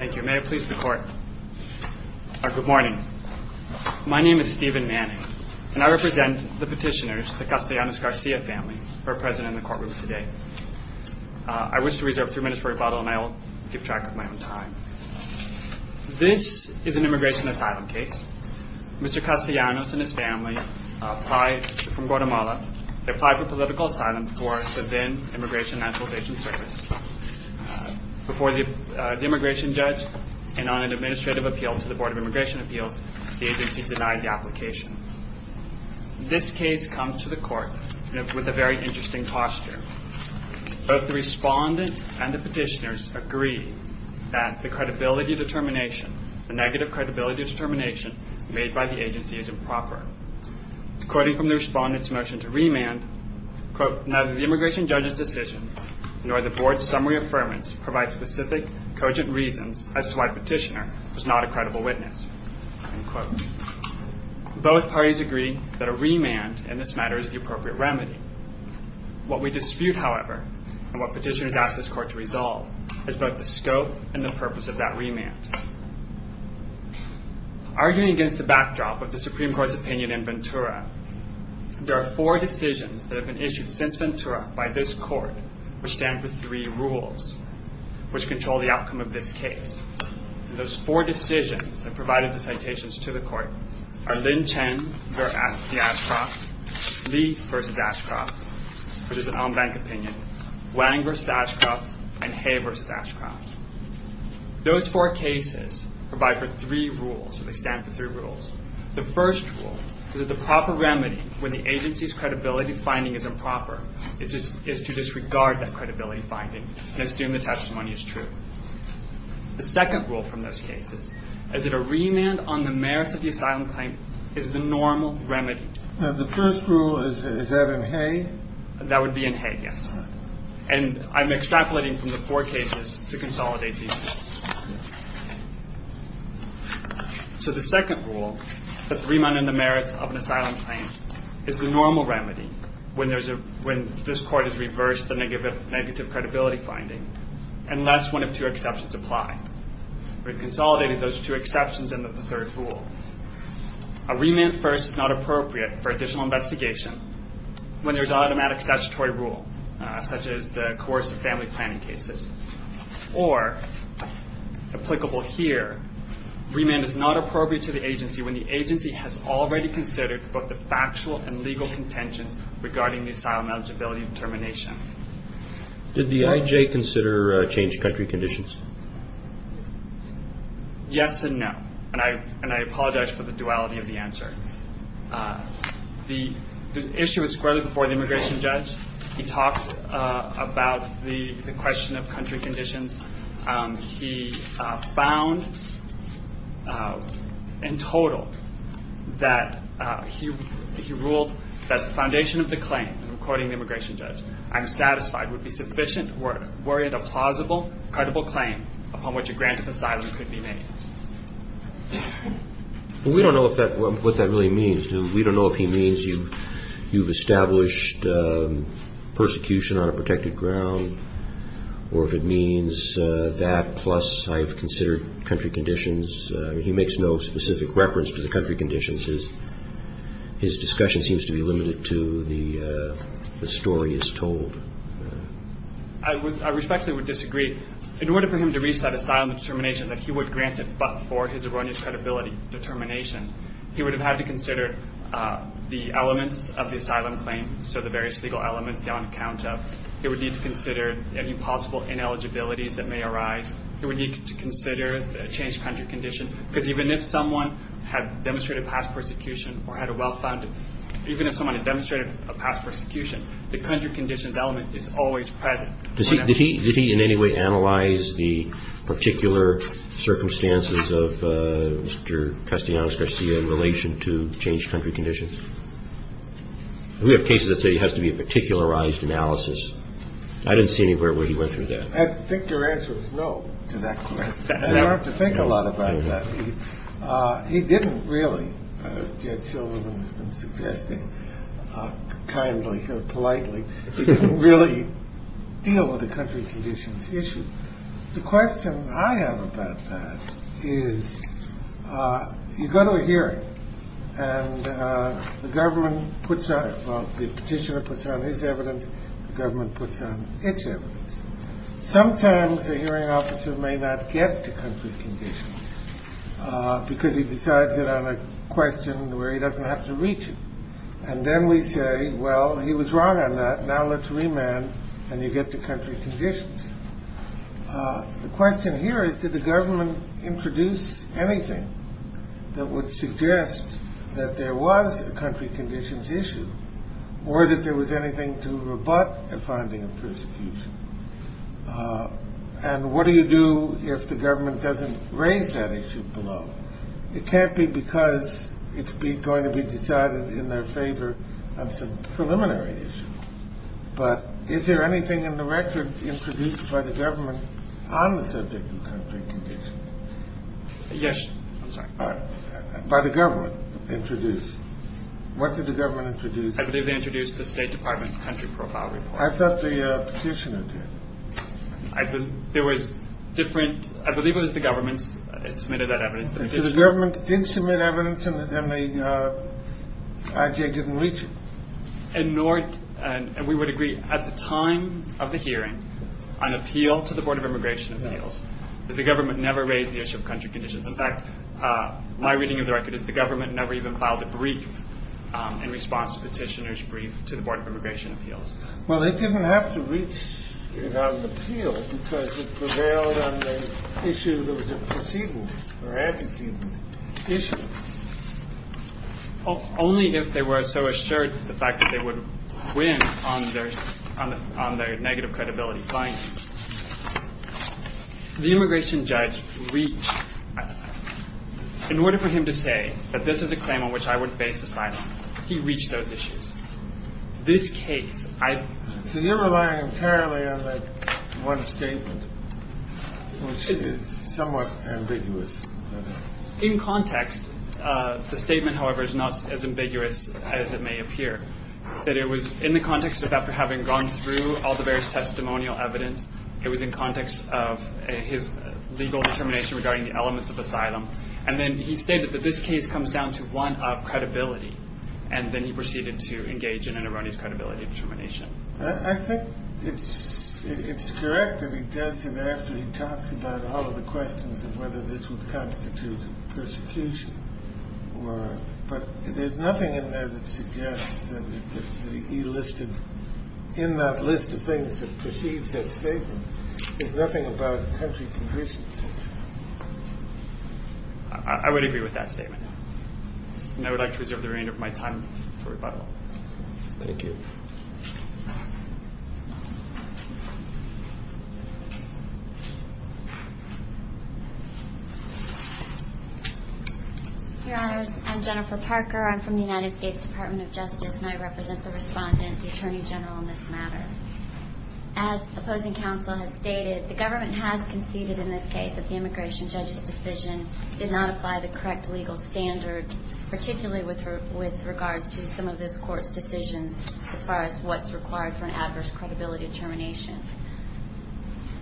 Good morning. My name is Stephen Manning, and I represent the petitioners, the Castellanos-Garcia family, who are present in the courtroom today. I wish to reserve three minutes for rebuttal, and I will keep track of my own time. This is an immigration asylum case. Mr. Castellanos and his family apply from Guatemala. They apply for political asylum for the then-Immigration and Naturalization Service. Before the immigration judge, and on an administrative appeal to the Board of Immigration Appeals, the agency denied the application. This case comes to the court with a very interesting posture. Both the respondent and the petitioners agree that the credibility determination, the negative credibility determination made by the agency is improper. According from the respondent's motion to remand, neither the immigration judge's decision nor the board's summary affirmance provide specific, cogent reasons as to why the petitioner was not a credible witness. Both parties agree that a remand in this matter is the appropriate remedy. What we dispute, however, and what petitioners ask this court to resolve, is both the scope and the purpose of that remand. Arguing against the backdrop of the Supreme Court's opinion in Ventura, there are four decisions that have been issued since Ventura by this court, which stand for three rules, which control the outcome of this case. Those four decisions that provided the citations to the court are Lin Chen v. Ashcroft, Lee v. Ashcroft, which is an on-bank opinion, Wang v. Ashcroft, and Hay v. Ashcroft. Those four cases provide for three rules. They stand for three rules. The first rule is that the proper remedy, when the agency's credibility finding is improper, is to disregard that credibility finding and assume the testimony is true. The second rule from those cases is that a remand on the merits of the asylum claim is the normal remedy. The first rule, is that in Hay? That would be in Hay, yes. And I'm extrapolating from the four cases to consolidate these. So the second rule, that the remand on the merits of an asylum claim is the normal remedy, when this court has reversed the negative credibility finding, unless one of two exceptions apply. We've consolidated those two exceptions into the third rule. A remand first is not appropriate for additional investigation when there's automatic statutory rule, such as the coercive family planning cases. Or, applicable here, remand is not appropriate to the agency when the agency has already considered both the factual and legal contentions regarding the asylum eligibility determination. Did the IJ consider change of country conditions? Yes and no. And I apologize for the duality of the answer. The issue was squarely before the immigration judge. He talked about the question of country conditions. He found, in total, that he ruled that the foundation of the claim, according to the immigration judge, I'm satisfied would be sufficient were it a plausible, credible claim upon which a grant of asylum could be made. We don't know what that really means. We don't know if he means you've established persecution on a protected ground, or if it means that, plus I've considered country conditions. He makes no specific reference to the country conditions. His discussion seems to be limited to the story is told. I respectfully would disagree. In order for him to reach that asylum determination that he would grant it but for his erroneous credibility determination, he would have had to consider the elements of the asylum claim, so the various legal elements on account of. He would need to consider any possible ineligibilities that may arise. He would need to consider a changed country condition. Because even if someone had demonstrated past persecution or had a well-founded, even if someone had demonstrated a past persecution, the country conditions element is always present. Did he in any way analyze the particular circumstances of Mr. Castellanos-Garcia in relation to changed country conditions? We have cases that say it has to be a particularized analysis. I didn't see anywhere where he went through that. I think your answer is no to that question. You don't have to think a lot about that. He didn't really, as Jed Silverman has been suggesting kindly or politely, really deal with the country conditions issue. The question I have about that is you go to a hearing and the government puts on, well, the petitioner puts on his evidence, the government puts on its evidence. Sometimes the hearing officer may not get to country conditions because he decides it on a question where he doesn't have to reach it. And then we say, well, he was wrong on that. Now let's remand and you get to country conditions. The question here is, did the government introduce anything that would suggest that there was a country conditions issue or that there was anything to rebut a finding of persecution? And what do you do if the government doesn't raise that issue below? It can't be because it's going to be decided in their favor on some preliminary issue. But is there anything in the record introduced by the government on the subject of country conditions? Yes. By the government introduced. What did the government introduce? I believe they introduced the State Department Country Profile Report. I thought the petitioner did. I believe it was the government that submitted that evidence. So the government didn't submit evidence and then the IJ didn't reach it. And we would agree at the time of the hearing on appeal to the Board of Immigration Appeals that the government never raised the issue of country conditions. In fact, my reading of the record is the government never even filed a brief in response to the petitioner's brief to the Board of Immigration Appeals. Well, they didn't have to reach it on appeal because it prevailed on the issue that was a perceivable or antecedent issue. Only if they were so assured of the fact that they would win on their negative credibility findings. The immigration judge reached. In order for him to say that this is a claim on which I would face asylum, he reached those issues. This case, I. So you're relying entirely on that one statement, which is somewhat ambiguous. In context, the statement, however, is not as ambiguous as it may appear that it was in the context of having gone through all the various testimonial evidence. It was in context of his legal determination regarding the elements of asylum. And then he stated that this case comes down to one of credibility. And then he proceeded to engage in an erroneous credibility determination. I think it's it's correct that he does. And after he talks about all of the questions of whether this would constitute persecution or. But there's nothing in there that suggests that he listed in that list of things that perceives that statement. There's nothing about the country. I would agree with that statement. I would like to reserve the remainder of my time for rebuttal. Thank you. Your Honor, I'm Jennifer Parker. I'm from the United States Department of Justice, and I represent the respondent, the attorney general in this matter. As opposing counsel has stated, the government has conceded in this case that the immigration judge's decision did not apply the correct legal standard, particularly with her with regards to some of this court's decisions as far as what's required for an adverse credibility determination.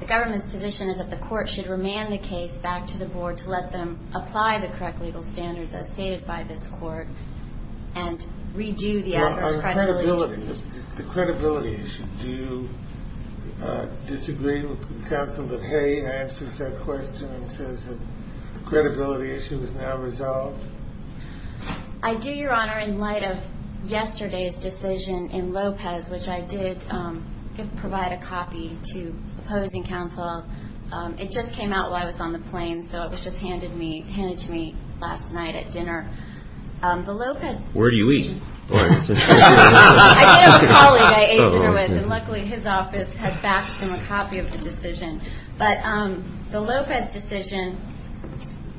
The government's position is that the court should remand the case back to the board to let them apply the correct legal standards, as stated by this court, and redo the credibility. The credibility issue. Do you disagree with the counsel that Hay answers that question and says that the credibility issue is now resolved? I do, Your Honor. In light of yesterday's decision in Lopez, which I did provide a copy to opposing counsel, it just came out while I was on the plane, so it was just handed to me last night at dinner. The Lopez. Where do you eat? I did have a colleague I ate dinner with, and luckily his office had backed him a copy of the decision. But the Lopez decision,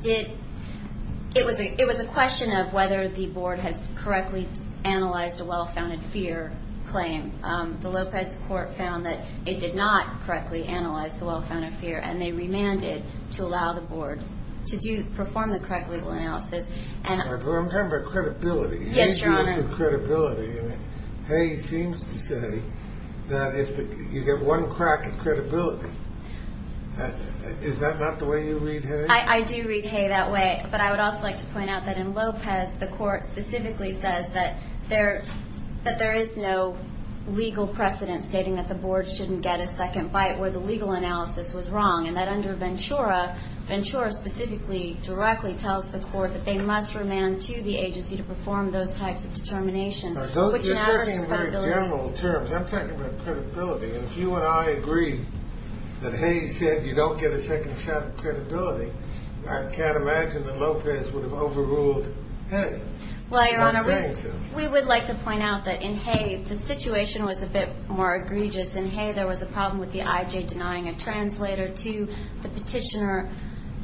it was a question of whether the board had correctly analyzed a well-founded fear claim. The Lopez court found that it did not correctly analyze the well-founded fear, and they remanded to allow the board to perform the correct legal analysis. I'm talking about credibility. Yes, Your Honor. Hay seems to say that you get one crack at credibility. Is that not the way you read Hay? I do read Hay that way, but I would also like to point out that in Lopez, the court specifically says that there is no legal precedent stating that the board shouldn't get a second bite where the legal analysis was wrong, and that under Ventura, Ventura specifically, directly tells the court that they must remand to the agency to perform those types of determinations. Those are very general terms. I'm talking about credibility, and if you and I agree that Hay said you don't get a second shot at credibility, I can't imagine that Lopez would have overruled Hay. Well, Your Honor, we would like to point out that in Hay, the situation was a bit more egregious. In Hay, there was a problem with the IJ denying a translator to the petitioner.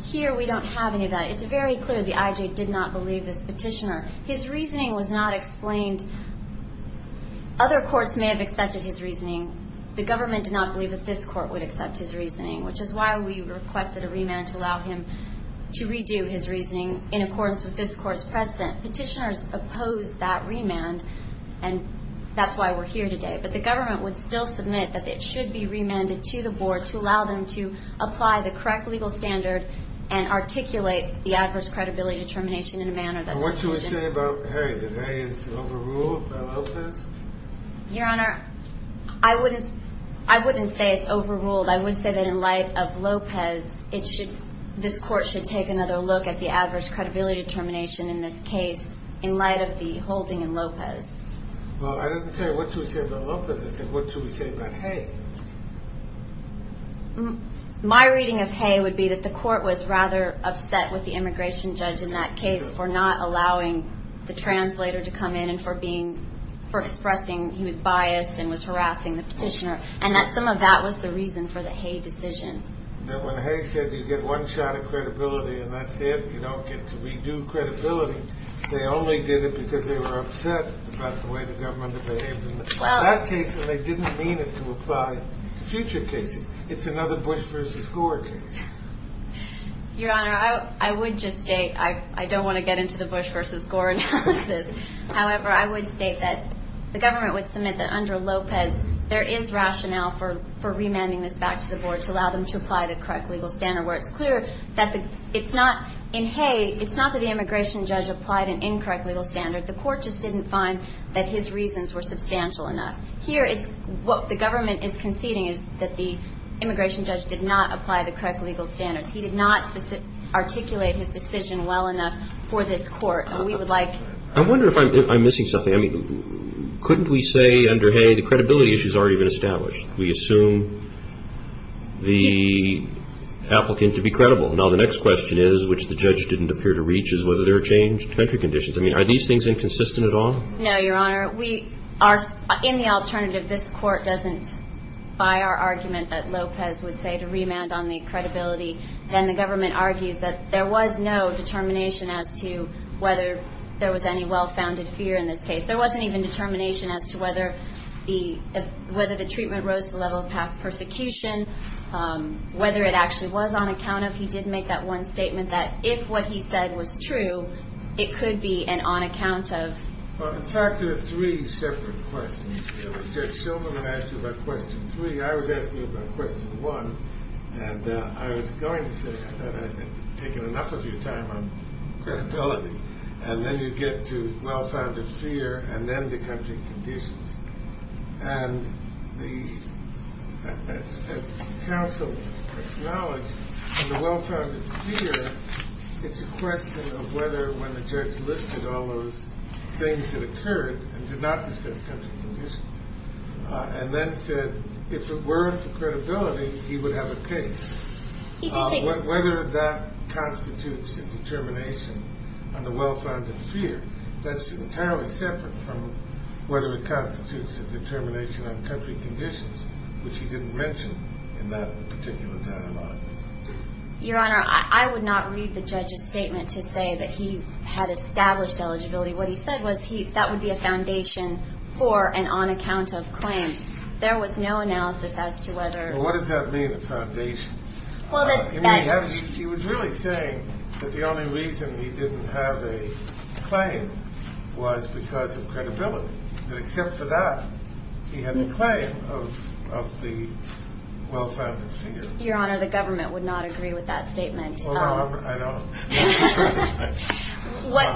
Here we don't have any of that. It's very clear the IJ did not believe this petitioner. His reasoning was not explained. Other courts may have accepted his reasoning. The government did not believe that this court would accept his reasoning, which is why we requested a remand to allow him to redo his reasoning in accordance with this court's precedent. Petitioners opposed that remand, and that's why we're here today. But the government would still submit that it should be remanded to the board to allow them to apply the correct legal standard and articulate the adverse credibility determination in a manner that's sufficient. What do we say about Hay? Did Hay get overruled by Lopez? Your Honor, I wouldn't say it's overruled. I would say that in light of Lopez, this court should take another look at the adverse credibility determination in this case in light of the holding in Lopez. Well, I didn't say what do we say about Lopez. I said what do we say about Hay. My reading of Hay would be that the court was rather upset with the immigration judge in that case for not allowing the translator to come in and for expressing he was biased and was harassing the petitioner, and that some of that was the reason for the Hay decision. When Hay said you get one shot at credibility and that's it, you don't get to redo credibility, they only did it because they were upset about the way the government behaved in that case, and they didn't mean it to apply to future cases. It's another Bush v. Gore case. Your Honor, I would just state I don't want to get into the Bush v. Gore analysis. However, I would state that the government would submit that under Lopez, there is rationale for remanding this back to the board to allow them to apply the correct legal standard where it's clear that it's not in Hay, it's not that the immigration judge applied an incorrect legal standard. The court just didn't find that his reasons were substantial enough. Here it's what the government is conceding is that the immigration judge did not apply the correct legal standards. He did not articulate his decision well enough for this court, and we would like to. I wonder if I'm missing something. I mean, couldn't we say under Hay the credibility issue has already been established? We assume the applicant to be credible. Now, the next question is, which the judge didn't appear to reach, is whether there are change to entry conditions. I mean, are these things inconsistent at all? No, Your Honor. We are in the alternative. This court doesn't buy our argument that Lopez would say to remand on the credibility, and the government argues that there was no determination as to whether there was any well-founded fear in this case. There wasn't even determination as to whether the treatment rose to the level of past persecution, whether it actually was on account of he did make that one statement that if what he said was true, it could be an on account of. In fact, there are three separate questions. Judge Shulman asked you about question three. I was asking you about question one, and I was going to say that I had taken enough of your time on credibility, and then you get to well-founded fear, and then the country conditions. And the counsel acknowledged that the well-founded fear, it's a question of whether when the judge listed all those things that occurred, and did not discuss country conditions, and then said if it weren't for credibility, he would have a case. Whether that constitutes a determination on the well-founded fear, that's entirely separate from whether it constitutes a determination on country conditions, which he didn't mention in that particular dialogue. Your Honor, I would not read the judge's statement to say that he had established eligibility. What he said was that would be a foundation for an on account of claim. There was no analysis as to whether. What does that mean, a foundation? He was really saying that the only reason he didn't have a claim was because of credibility, and except for that, he had a claim of the well-founded fear. Your Honor, the government would not agree with that statement. Well, I don't.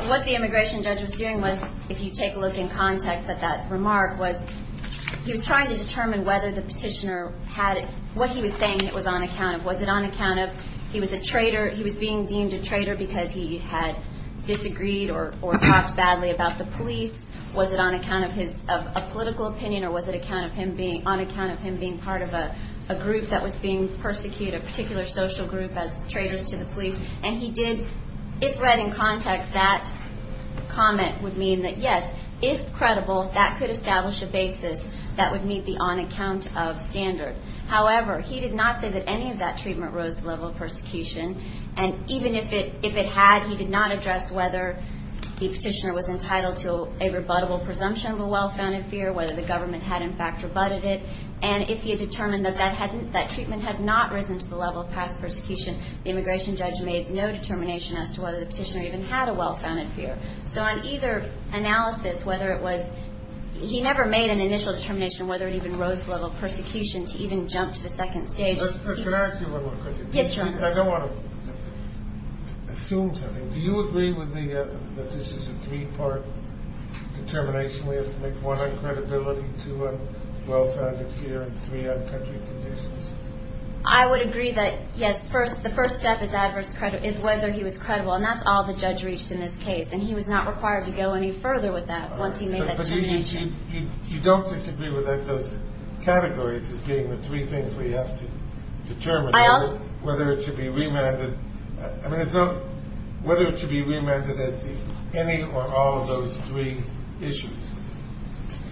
What the immigration judge was doing was, if you take a look in context at that remark, was he was trying to determine whether the petitioner had it, what he was saying that was on account of. Was it on account of he was a traitor? He was being deemed a traitor because he had disagreed or talked badly about the police. Was it on account of a political opinion, or was it on account of him being part of a group that was being persecuted, a particular social group as traitors to the police? And he did, if read in context, that comment would mean that, yes, if credible, that could establish a basis that would meet the on-account-of standard. However, he did not say that any of that treatment rose to the level of persecution, and even if it had, he did not address whether the petitioner was entitled to a rebuttable presumption of a well-founded fear, whether the government had, in fact, rebutted it, and if he had determined that that treatment had not risen to the level of past persecution, the immigration judge made no determination as to whether the petitioner even had a well-founded fear. So on either analysis, whether it was, he never made an initial determination whether it even rose to the level of persecution to even jump to the second stage. Can I ask you one more question? Yes, Your Honor. I don't want to assume something. Do you agree that this is a three-part determination? We have to make one on credibility, two on well-founded fear, and three on country conditions? I would agree that, yes, the first step is whether he was credible, and that's all the judge reached in this case, and he was not required to go any further with that once he made that determination. But you don't disagree with those categories as being the three things we have to determine, whether it should be remanded as any or all of those three issues?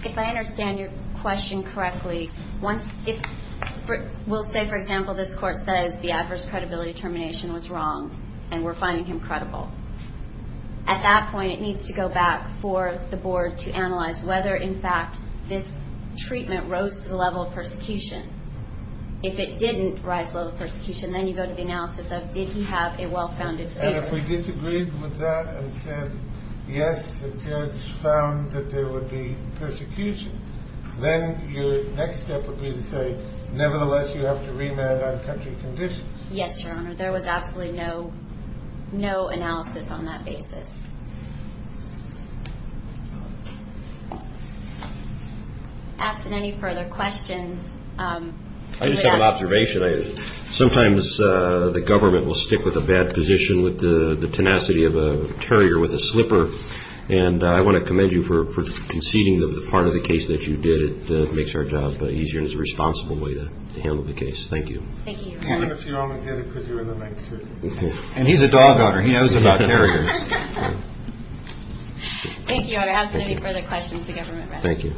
If I understand your question correctly, we'll say, for example, this court says the adverse credibility determination was wrong, and we're finding him credible. At that point, it needs to go back for the board to analyze whether, in fact, this treatment rose to the level of persecution. If it didn't rise to the level of persecution, then you go to the analysis of did he have a well-founded fear. And if we disagreed with that and said, yes, the judge found that there would be persecution, then your next step would be to say, nevertheless, you have to remand on country conditions. Yes, Your Honor, there was absolutely no analysis on that basis. Absent any further questions. I just have an observation. Sometimes the government will stick with a bad position with the tenacity of a terrier with a slipper, and I want to commend you for conceding the part of the case that you did that makes our job easier and is a responsible way to handle the case. Thank you. Thank you, Your Honor. And he's a dog owner. He knows about terriers. Thank you, Your Honor. Absent any further questions, the government rests. Thank you.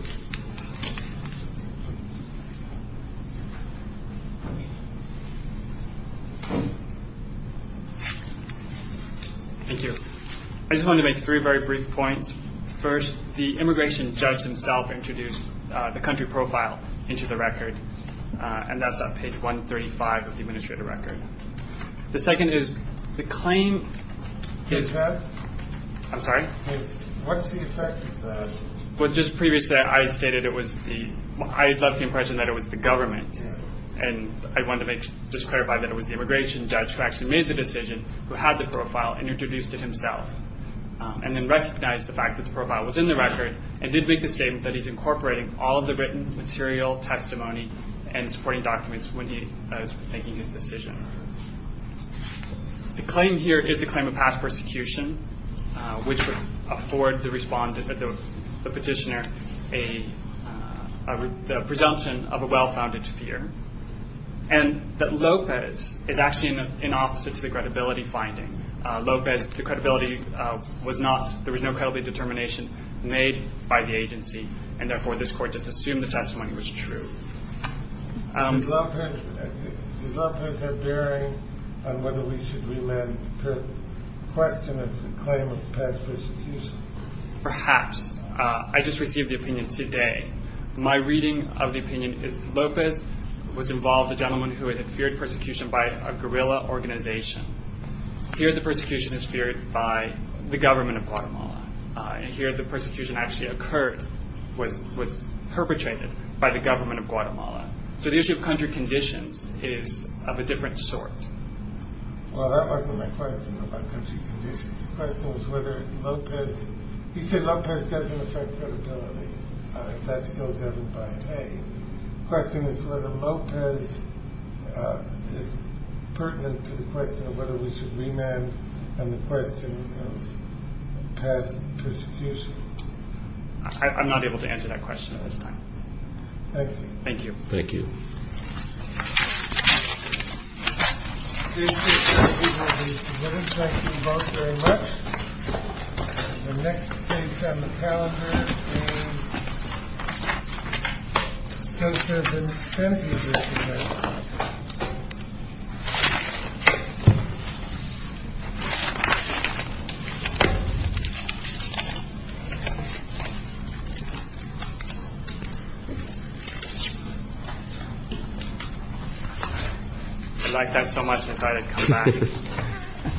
Thank you. I just wanted to make three very brief points. First, the immigration judge himself introduced the country profile into the record, and that's on page 135 of the administrative record. The second is the claim is that – I'm sorry? What's the effect of that? Well, just previously I stated it was the – I left the impression that it was the government, and I wanted to just clarify that it was the immigration judge who actually made the decision, who had the profile, and introduced it himself, and then recognized the fact that the profile was in the record and did make the statement that he's incorporating all of the written material, testimony, and supporting documents when he was making his decision. The claim here is a claim of past persecution, which would afford the petitioner a presumption of a well-founded fear, and that Lopez is actually an opposite to the credibility finding. Lopez, the credibility was not – there was no credibility determination made by the agency, and therefore this court just assumed the testimony was true. Does Lopez have bearing on whether we should remand the question of the claim of past persecution? Perhaps. I just received the opinion today. My reading of the opinion is Lopez was involved a gentleman who had feared persecution by a guerrilla organization. Here the persecution is feared by the government of Guatemala, and here the persecution actually occurred, was perpetrated by the government of Guatemala. So the issue of country conditions is of a different sort. Well, that wasn't my question about country conditions. The question was whether Lopez – you said Lopez doesn't affect credibility. That's still governed by Hague. The question is whether Lopez is pertinent to the question of whether we should remand the question of past persecution. I'm not able to answer that question at this time. Thank you. Thank you. Thank you. Thank you. Thank you. Thank you both very much. The next case on the calendar is Senator Vicente. I liked that so much I decided to come back.